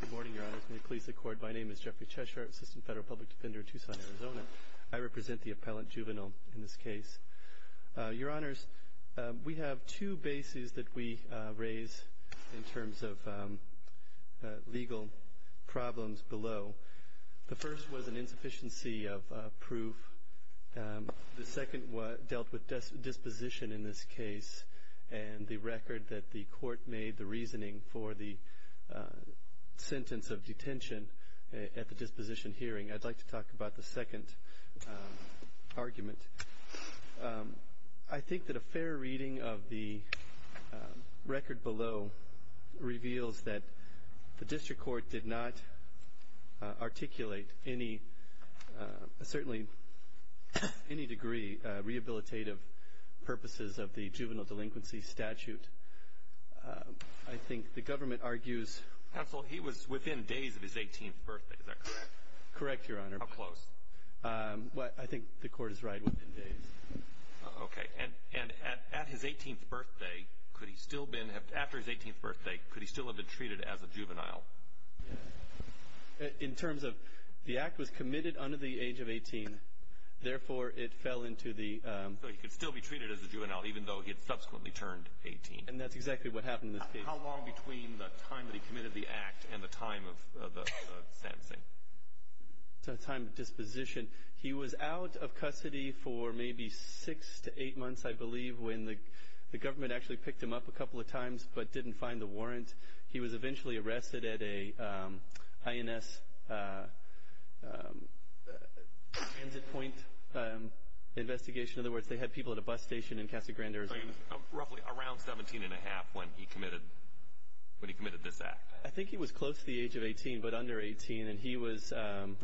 Good morning, Your Honors. May it please the Court, my name is Jeffrey Cheshire, Assistant Federal Public Defender of Tucson, Arizona. I represent the Appellant Juvenile in this case. Your Honors, we have two bases that we raise in terms of legal problems below. The first was an insufficiency of proof. The second dealt with disposition in this case and the record that the Court made the reasoning for the sentence of detention at the disposition hearing. I'd like to talk about the second argument. I think that a fair reading of the record below reveals that the District Court did not articulate any, certainly any degree of clarity on the rehabilitative purposes of the Juvenile Delinquency Statute. I think the Government argues... Counsel, he was within days of his 18th birthday, is that correct? Correct, Your Honor. How close? I think the Court is right within days. Okay, and at his 18th birthday, could he still have been, after his 18th birthday, could he still have been treated as a juvenile? In terms of, the act was committed under the age of 18, therefore it fell into the... So he could still be treated as a juvenile even though he had subsequently turned 18. And that's exactly what happened in this case. How long between the time that he committed the act and the time of the sentencing? The time of disposition. He was out of custody for maybe 6 to 8 months, I believe, when the Government actually picked him up a couple of times, but didn't find the warrant. He was eventually arrested at a INS transit point investigation. In other words, they had people at a bus station in Casa Grande, Arizona. Roughly around 17 and a half when he committed this act. I think he was close to the age of 18, but under 18, and he was,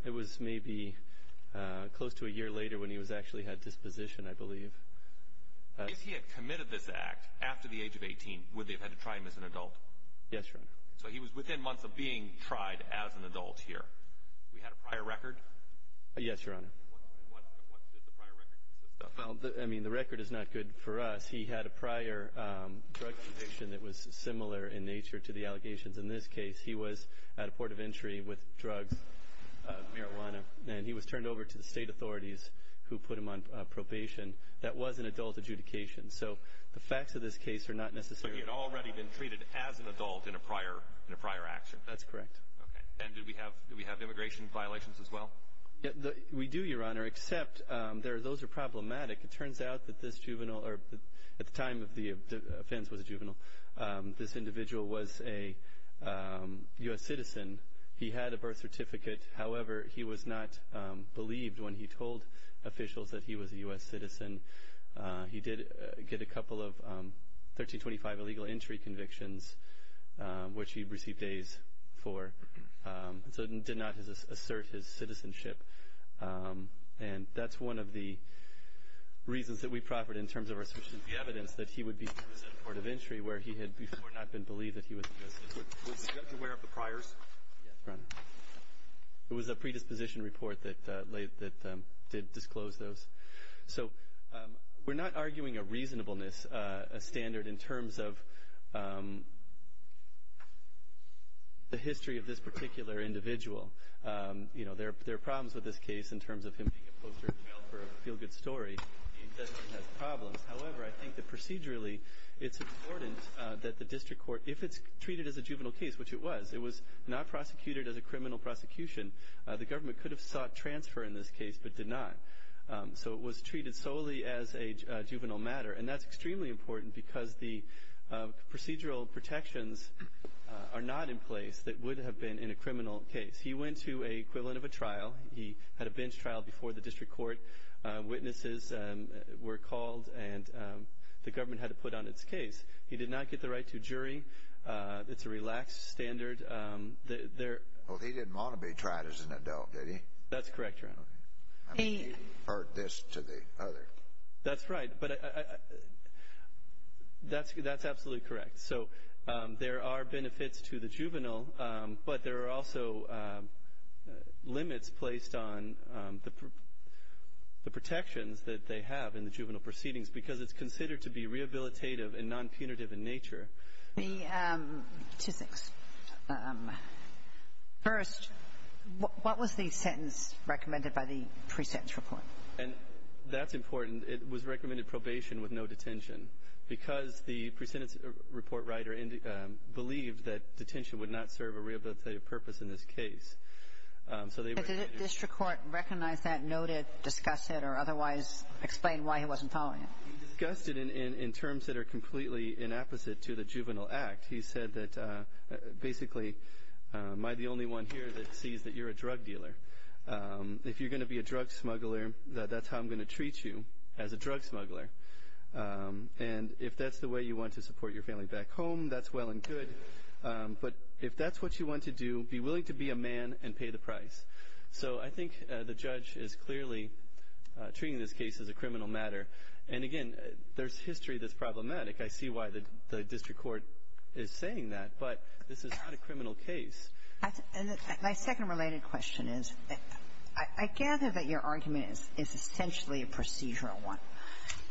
it was maybe close to a year later when he actually had his disposition, I believe. If he had committed this act after the age of 18, would they have had to try him as an adult? Yes, Your Honor. So he was within months of being tried as an adult here. We had a prior record? Yes, Your Honor. What did the prior record consist of? Well, I mean, the record is not good for us. He had a prior drug conviction that was similar in nature to the allegations in this case. He was at a port of entry with drugs, marijuana, and he was turned over to the state authorities who put him on probation. That was an adult adjudication. So the facts of this case are not necessarily... So he had already been treated as an adult in a prior action? That's correct. Okay. And did we have immigration violations as well? We do, Your Honor, except those are problematic. It turns out that this juvenile, or at the time of the offense was a juvenile, this individual was a U.S. citizen. He had a birth certificate. However, he was not believed when he told officials that he was a U.S. citizen. He did get a couple of 1325 illegal entry convictions, which he received days for. So he did not assert his citizenship. And that's one of the reasons that we proffered in terms of the evidence that he would be sent to a port of entry where he had before not been believed that he was a U.S. citizen. Was the judge aware of the priors? Yes, Your Honor. It was a predisposition report that did disclose those. So we're not arguing a reasonableness standard in terms of the history of this particular individual. There are problems with this case in terms of him being a poster child for a feel-good story. The investigator has problems. However, I think that procedurally it's important that the district court, if it's treated as a juvenile case, which it was, it was not prosecuted as a criminal prosecution. The government could have sought transfer in this case but did not. So it was treated solely as a juvenile matter. And that's extremely important because the procedural protections are not in place that would have been in a criminal case. He went to an equivalent of a juvenile court and was called and the government had to put on its case. He did not get the right to jury. It's a relaxed standard. He didn't want to be tried as an adult, did he? That's correct, Your Honor. I mean, he heard this to the other. That's right. But that's absolutely correct. So there are benefits to the juvenile, but there are also limits placed on the protections that they have in the juvenile proceedings because it's considered to be rehabilitative and non-punitive in nature. Two things. First, what was the sentence recommended by the pre-sentence report? And that's important. It was recommended probation with no detention because the pre-sentence report writer believed that detention would not serve a rehabilitative purpose in this case. Did the district court recognize that, note it, discuss it, or otherwise explain why he wasn't following it? He discussed it in terms that are completely inapposite to the juvenile act. He said that basically, am I the only one here that sees that you're a drug dealer? If you're going to be a drug smuggler, that's how I'm going to treat you, as a drug smuggler. And if that's the way you want to support your family back home, that's well and good. But if that's what you want to do, be willing to be a man and pay the price. So I think the judge is clearly treating this case as a criminal matter. And, again, there's history that's problematic. I see why the district court is saying that. But this is not a criminal case. And my second related question is, I gather that your argument is essentially a procedural one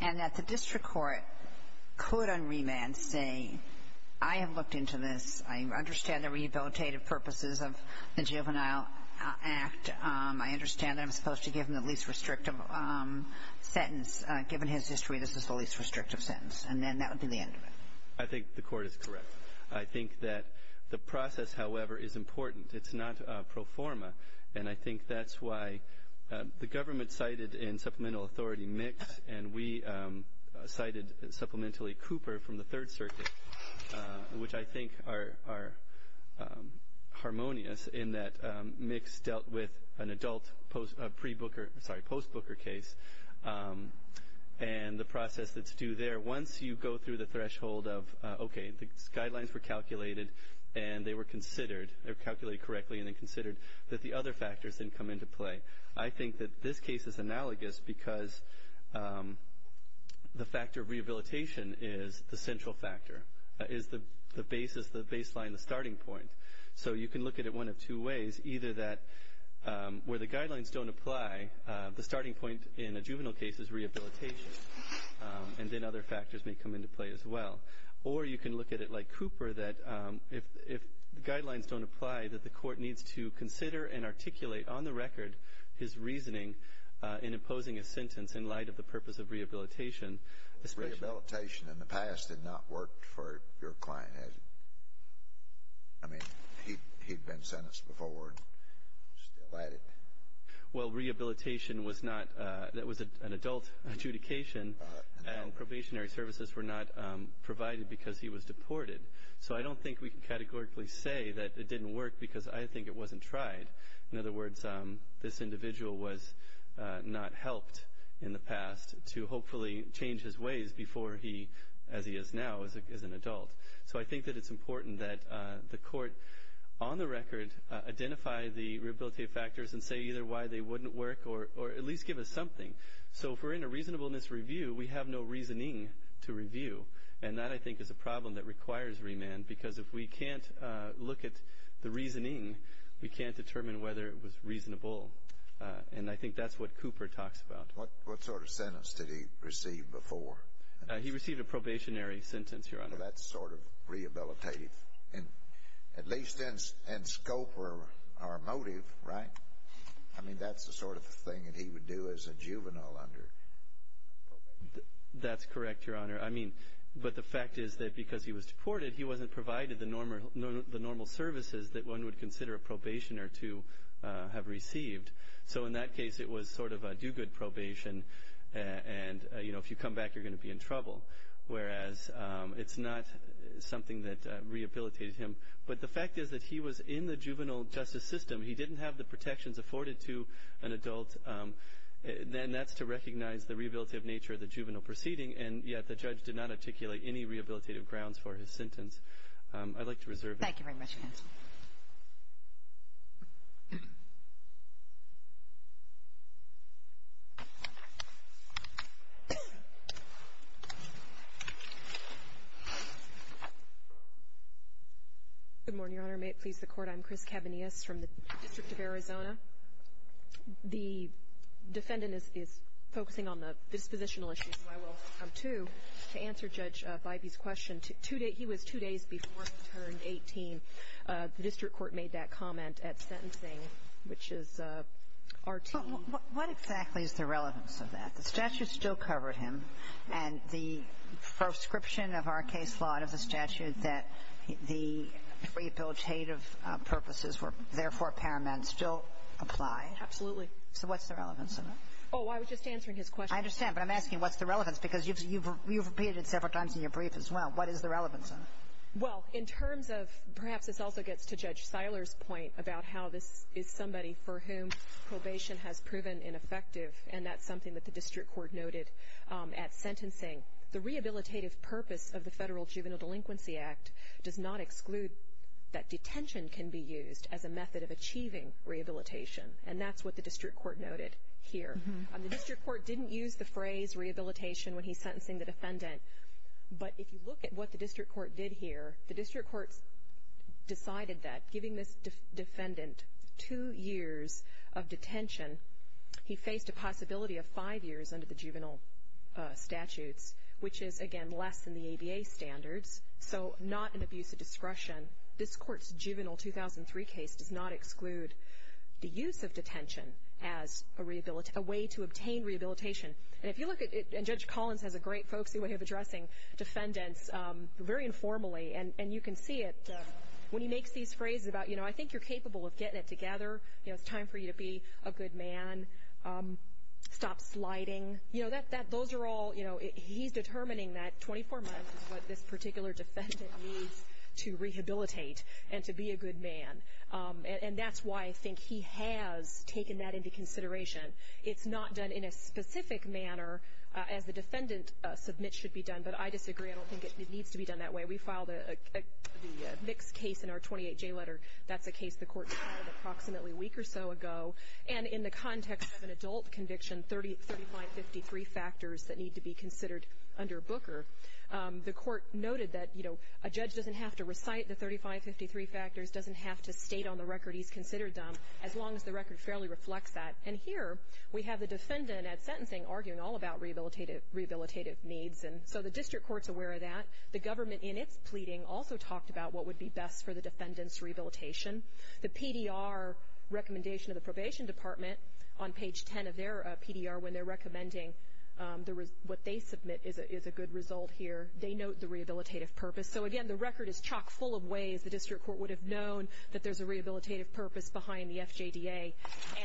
and that the district court could, on remand, say, I have looked into this. I understand the rehabilitative purposes of the Juvenile Act. I understand that I'm supposed to give him the least restrictive sentence. Given his history, this is the least restrictive sentence. And then that would be the end of it. I think the court is correct. I think that the process, however, is important. It's not pro forma. And I think that's why the government cited in Supplemental Authority Mix, and we did Circuit, which I think are harmonious in that Mix dealt with an adult pre-Booker, sorry, post-Booker case. And the process that's due there, once you go through the threshold of, okay, the guidelines were calculated and they were considered, they were calculated correctly and then considered, that the other factors then come into play. I think that this case is analogous because the factor of rehabilitation is the central factor, is the basis, the baseline, the starting point. So you can look at it one of two ways. Either that where the guidelines don't apply, the starting point in a juvenile case is rehabilitation and then other factors may come into play as well. Or you can look at it like Cooper that if the guidelines don't apply, that the court needs to consider and articulate on the record his reasoning in imposing a sentence in light of the purpose of rehabilitation. Rehabilitation in the past did not work for your client, has it? I mean, he'd been sentenced before and still at it. Well, rehabilitation was not, that was an adult adjudication and probationary services were not provided because he was deported. So I don't think we can categorically say that it didn't work because I think it wasn't tried. In other words, this individual was not helped in the past to hopefully change his ways before he, as he is now, is an adult. So I think that it's important that the court, on the record, identify the rehabilitative factors and say either why they wouldn't work or at least give us something. So if we're in a reasonableness review, we have no reasoning to review. And that, I think, is a problem that requires remand because if we can't look at the reasoning, we can't determine whether it was reasonable. And I think that's what Cooper talks about. What sort of sentence did he receive before? He received a probationary sentence, Your Honor. Well, that's sort of rehabilitative. At least in scope or motive, right? I mean, that's the sort of thing that he would do as a juvenile under probation. That's correct, Your Honor. I mean, but the reason he was deported, he wasn't provided the normal services that one would consider a probationer to have received. So in that case, it was sort of a do-good probation. And you know, if you come back, you're going to be in trouble. Whereas it's not something that rehabilitated him. But the fact is that he was in the juvenile justice system. He didn't have the protections afforded to an adult. And that's to recognize the rehabilitative nature of the juvenile proceeding. And yet the judge did not articulate any rehabilitative grounds for his sentence. I'd like to reserve it. Thank you very much, Your Honor. Good morning, Your Honor. May it please the Court. I'm Chris Cabanillas from the District of Arizona. The defendant is focusing on the dispositional issues, who I will come to to in a moment. He was two days before he turned 18. The district court made that comment at sentencing, which is our team. What exactly is the relevance of that? The statute still covered him. And the proscription of our case law and of the statute that the rehabilitative purposes were therefore paramount still apply? Absolutely. So what's the relevance of that? Oh, I was just answering his question. I understand. But I'm asking what's the relevance because you've repeated it several times in your brief as well. What is the relevance of it? Well, in terms of perhaps this also gets to Judge Seiler's point about how this is somebody for whom probation has proven ineffective. And that's something that the district court noted at sentencing. The rehabilitative purpose of the Federal Juvenile Delinquency Act does not exclude that detention can be used as a method of achieving rehabilitation. And that's what the district court noted here. The district court didn't use the phrase rehabilitation when he's sentencing the defendant. But if you look at what the district court did here, the district court decided that giving this defendant two years of detention, he faced a possibility of five years under the juvenile statutes, which is again less than the ABA standards. So not an abuse of discretion. This court's juvenile 2003 case does not exclude the use of detention as a way to obtain rehabilitation. And if you look at, and Judge Collins has a great folksy way of addressing defendants very informally. And you can see it when he makes these phrases about, you know, I think you're capable of getting it together. You know, it's time for you to be a good man. Stop sliding. You know, those are all, you know, he's determining that 24 months is what this particular defendant needs to rehabilitate and to be a good man. And that's why I think he has taken that into consideration. It's not done in a specific manner as the defendant submits should be done. But I disagree. I don't think it needs to be done that way. We filed a mixed case in our 28J letter. That's a case the court filed approximately a week or so ago. And in the context of an adult conviction, 3553 factors that need to be considered under Booker, the court noted that, you know, a judge doesn't have to recite the 3553 factors, doesn't have to state on the record he's considered as long as the record fairly reflects that. And here we have the defendant at sentencing arguing all about rehabilitative needs. And so the district court's aware of that. The government in its pleading also talked about what would be best for the defendant's rehabilitation. The PDR recommendation of the Probation Department on page 10 of their PDR, when they're recommending what they submit is a good result here, they note the rehabilitative purpose. So, again, the record is chock full of ways the district court would have known that there's a rehabilitative purpose behind the FJDA.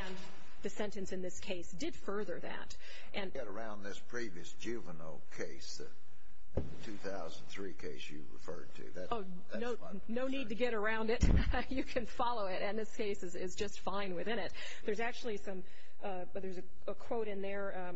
And the sentence in this case did further that. You can get around this previous juvenile case, the 2003 case you referred to. Oh, no need to get around it. You can follow it. And this case is just fine within it. There's actually some, there's a quote in there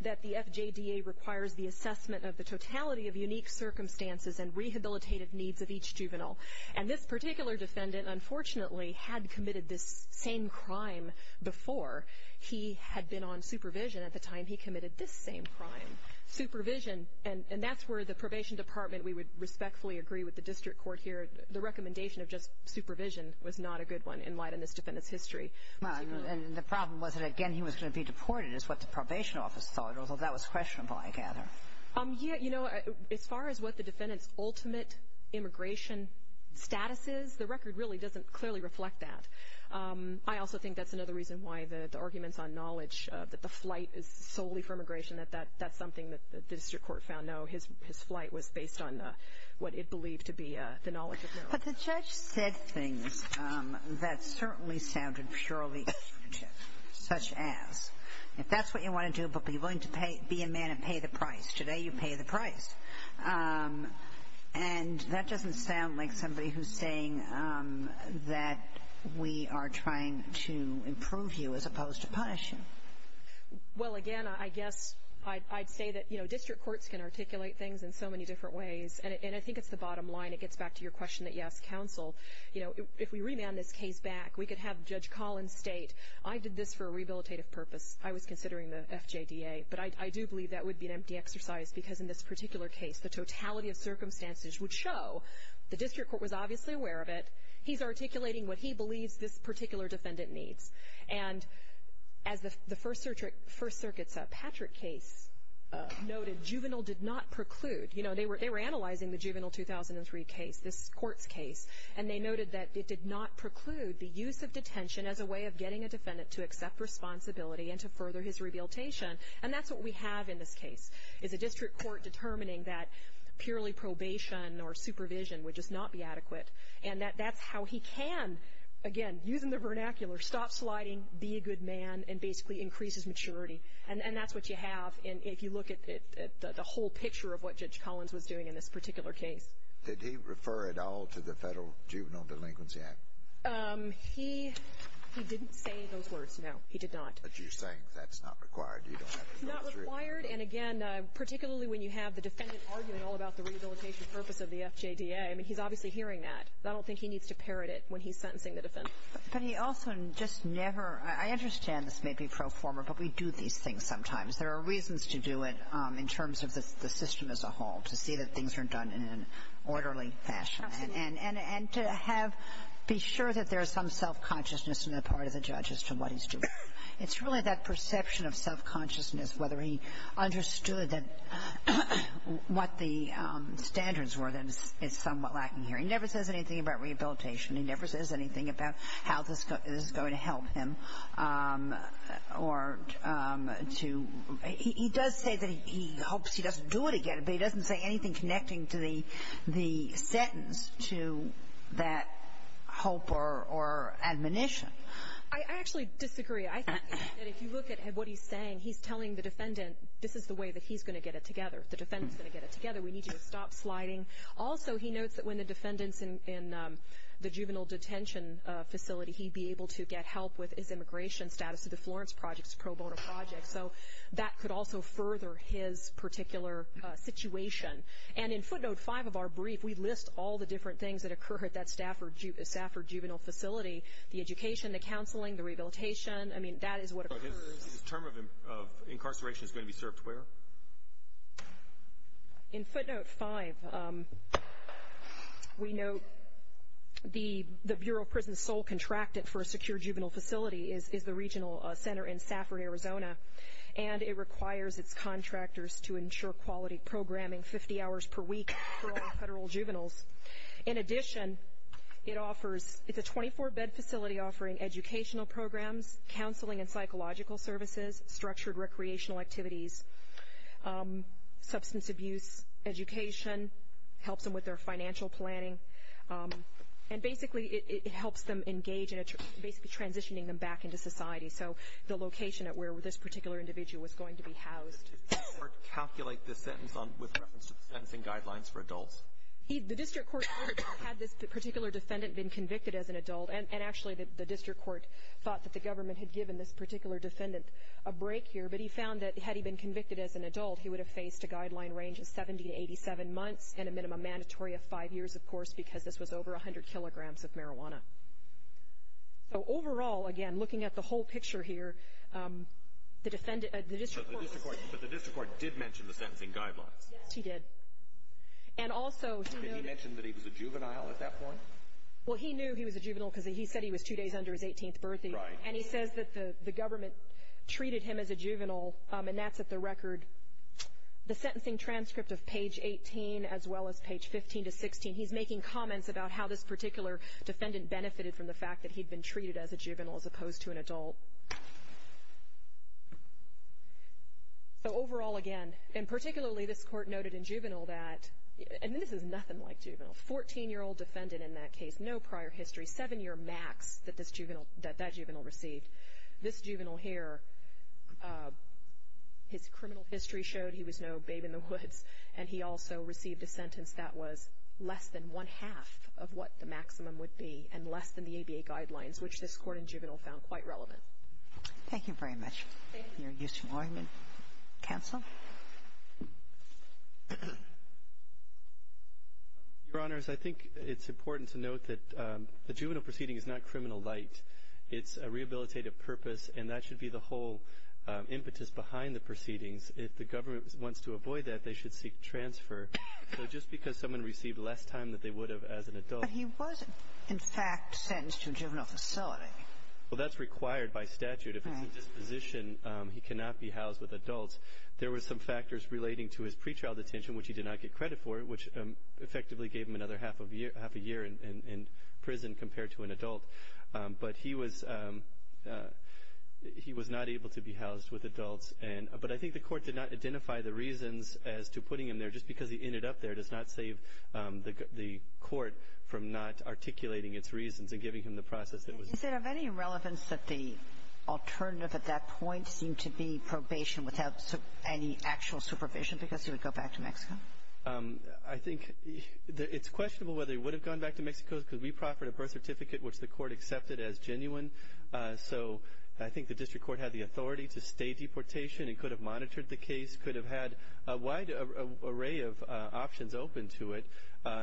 that the FJDA requires the assessment of the totality of unique circumstances and rehabilitative needs of each juvenile. And this particular defendant, unfortunately, had committed this same crime before. He had been on supervision at the time he committed this same crime. Supervision, and that's where the Probation Department, we would respectfully agree with the district court here, the recommendation of just supervision was not a good one in light of this defendant's history. And the problem was that, again, he was going to be deported is what the Probation Office thought, although that was questionable, I gather. Yeah, you know, as far as what the defendant's ultimate immigration status is, the record really doesn't clearly reflect that. I also think that's another reason why the arguments on knowledge, that the flight is solely for immigration, that that's something that the district court found. No, his flight was based on what it believed to be the knowledge of knowledge. But the judge said things that certainly sounded purely subjective, such as, if that's what you want to do, but be willing to be a man and pay the price. Today you pay the price. And that doesn't sound like somebody who's saying that we are trying to improve you as opposed to punish you. Well, again, I guess I'd say that district courts can articulate things in so many different ways, and I think it's the bottom line. It gets back to your question that you asked counsel. If we remand this case back, we could have Judge Collins state, I did this for a rehabilitative purpose. I was considering the FJDA. But I do believe that would be an empty exercise, because in this particular case, the totality of circumstances would show the district court was obviously aware of it. He's articulating what he believes this particular defendant needs. And as the First Circuit's Patrick case noted, juvenile did not preclude. You know, they were analyzing the juvenile 2003 case, this court's case, and they noted that it did not preclude the use of detention as a way of getting a defendant to accept responsibility and to further his rehabilitation. And that's what we have in this case, is a district court determining that purely probation or supervision would just not be adequate. And that's how he can, again, using the vernacular, stop sliding, be a good man, and basically increase his maturity. And that's what you have if you look at the whole picture of what Judge Collins was doing in this particular case. Did he refer at all to the Federal Juvenile Delinquency Act? He didn't say those words, no. He did not. But you're saying that's not required. You don't have to go through it. It's not required, and again, particularly when you have the defendant arguing all about the rehabilitation purpose of the FJDA. I mean, he's obviously hearing that. I don't think he needs to parrot it when he's sentencing the defendant. But he also just never – I understand this may be pro forma, but we do these things sometimes. There are reasons to do it in terms of the system as a whole, to see that things are done in an orderly fashion. And to have – be sure that there is some self-consciousness on the part of the judge as to what he's doing. It's really that perception of self-consciousness, whether he understood what the standards were, that is somewhat lacking here. He never says anything about rehabilitation. He never says anything about how this is going to help him or to – he does say that he hopes he doesn't do it again, but he doesn't say anything connecting to the sentence to that hope or admonition. I actually disagree. I think that if you look at what he's saying, he's telling the defendant this is the way that he's going to get it together. The defendant's going to get it together. We need to stop sliding. Also, he notes that when the defendant's in the juvenile detention facility, he'd be able to get help with his immigration status to the Florence Project's pro bono project. So that could also further his particular situation. And in footnote 5 of our brief, we list all the different things that occur at that Stafford juvenile facility – the education, the counseling, the rehabilitation. I mean, that is what occurs. His term of incarceration is going to be served where? In footnote 5, we note the Bureau of Prison's sole contracted for a secure juvenile facility is the regional center in Stafford, Arizona. And it requires its contractors to ensure quality programming 50 hours per week for all federal juveniles. In addition, it offers – it's a 24-bed facility offering educational programs, counseling and psychological services, structured recreational activities, substance abuse education, helps them with their financial planning. And basically, it helps them engage in basically transitioning them back into society. So the location at where this particular individual was going to be housed. Did the district court calculate this sentence with reference to the sentencing guidelines for adults? The district court had this particular defendant been convicted as an adult. And actually, the district court thought that the government had given this particular defendant a break here. But he found that had he been convicted as an adult, he would have faced a guideline range of 70 to 87 months and a minimum mandatory of five years, of course, because this was over 100 kilograms of marijuana. So overall, again, looking at the whole picture here, the district court – But the district court did mention the sentencing guidelines. Yes, he did. And also, he knew – Did he mention that he was a juvenile at that point? Well, he knew he was a juvenile because he said he was two days under his 18th birthday. Right. And he says that the government treated him as a juvenile, and that's at the record. The sentencing transcript of page 18 as well as page 15 to 16, he's making comments about how this particular defendant benefited from the fact that he'd been treated as a juvenile as opposed to an adult. So overall, again – And particularly, this court noted in juvenile that – And this is nothing like juvenile. Fourteen-year-old defendant in that case. No prior history. Seven-year max that that juvenile received. This juvenile here, his criminal history showed he was no babe in the woods. And he also received a sentence that was less than one-half of what the maximum would be and less than the ABA guidelines, which this court in juvenile found quite relevant. Thank you very much. Thank you. Thank you. Counsel? Your Honors, I think it's important to note that the juvenile proceeding is not criminal light. It's a rehabilitative purpose, and that should be the whole impetus behind the proceedings. If the government wants to avoid that, they should seek transfer. So just because someone received less time than they would have as an adult – But he was, in fact, sentenced to a juvenile facility. Well, that's required by statute. If it's a disposition, he cannot be housed with adults. There were some factors relating to his pretrial detention, which he did not get credit for, which effectively gave him another half a year in prison compared to an adult. But he was not able to be housed with adults. But I think the court did not identify the reasons as to putting him there. Just because he ended up there does not save the court from not articulating its reasons and giving him the process that was – Is it of any relevance that the alternative at that point seemed to be probation without any actual supervision because he would go back to Mexico? I think it's questionable whether he would have gone back to Mexico because we proffered a birth certificate, which the court accepted as genuine. So I think the district court had the authority to stay deportation and could have monitored the case, could have had a wide array of options open to it,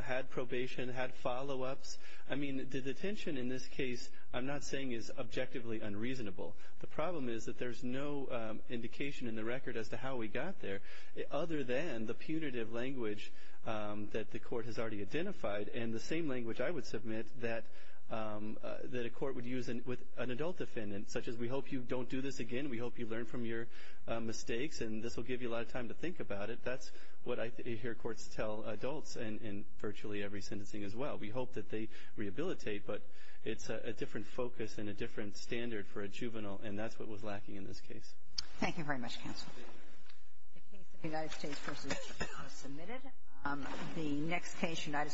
had probation, had follow-ups. I mean, detention in this case, I'm not saying is objectively unreasonable. The problem is that there's no indication in the record as to how he got there other than the punitive language that the court has already identified and the same language I would submit that a court would use with an adult defendant, such as we hope you don't do this again, we hope you learn from your mistakes and this will give you a lot of time to think about it. That's what I hear courts tell adults in virtually every sentencing as well. We hope that they rehabilitate, but it's a different focus and a different standard for a juvenile, and that's what was lacking in this case. Thank you very much, counsel. The case of the United States v. Chicago is submitted. The next case, United...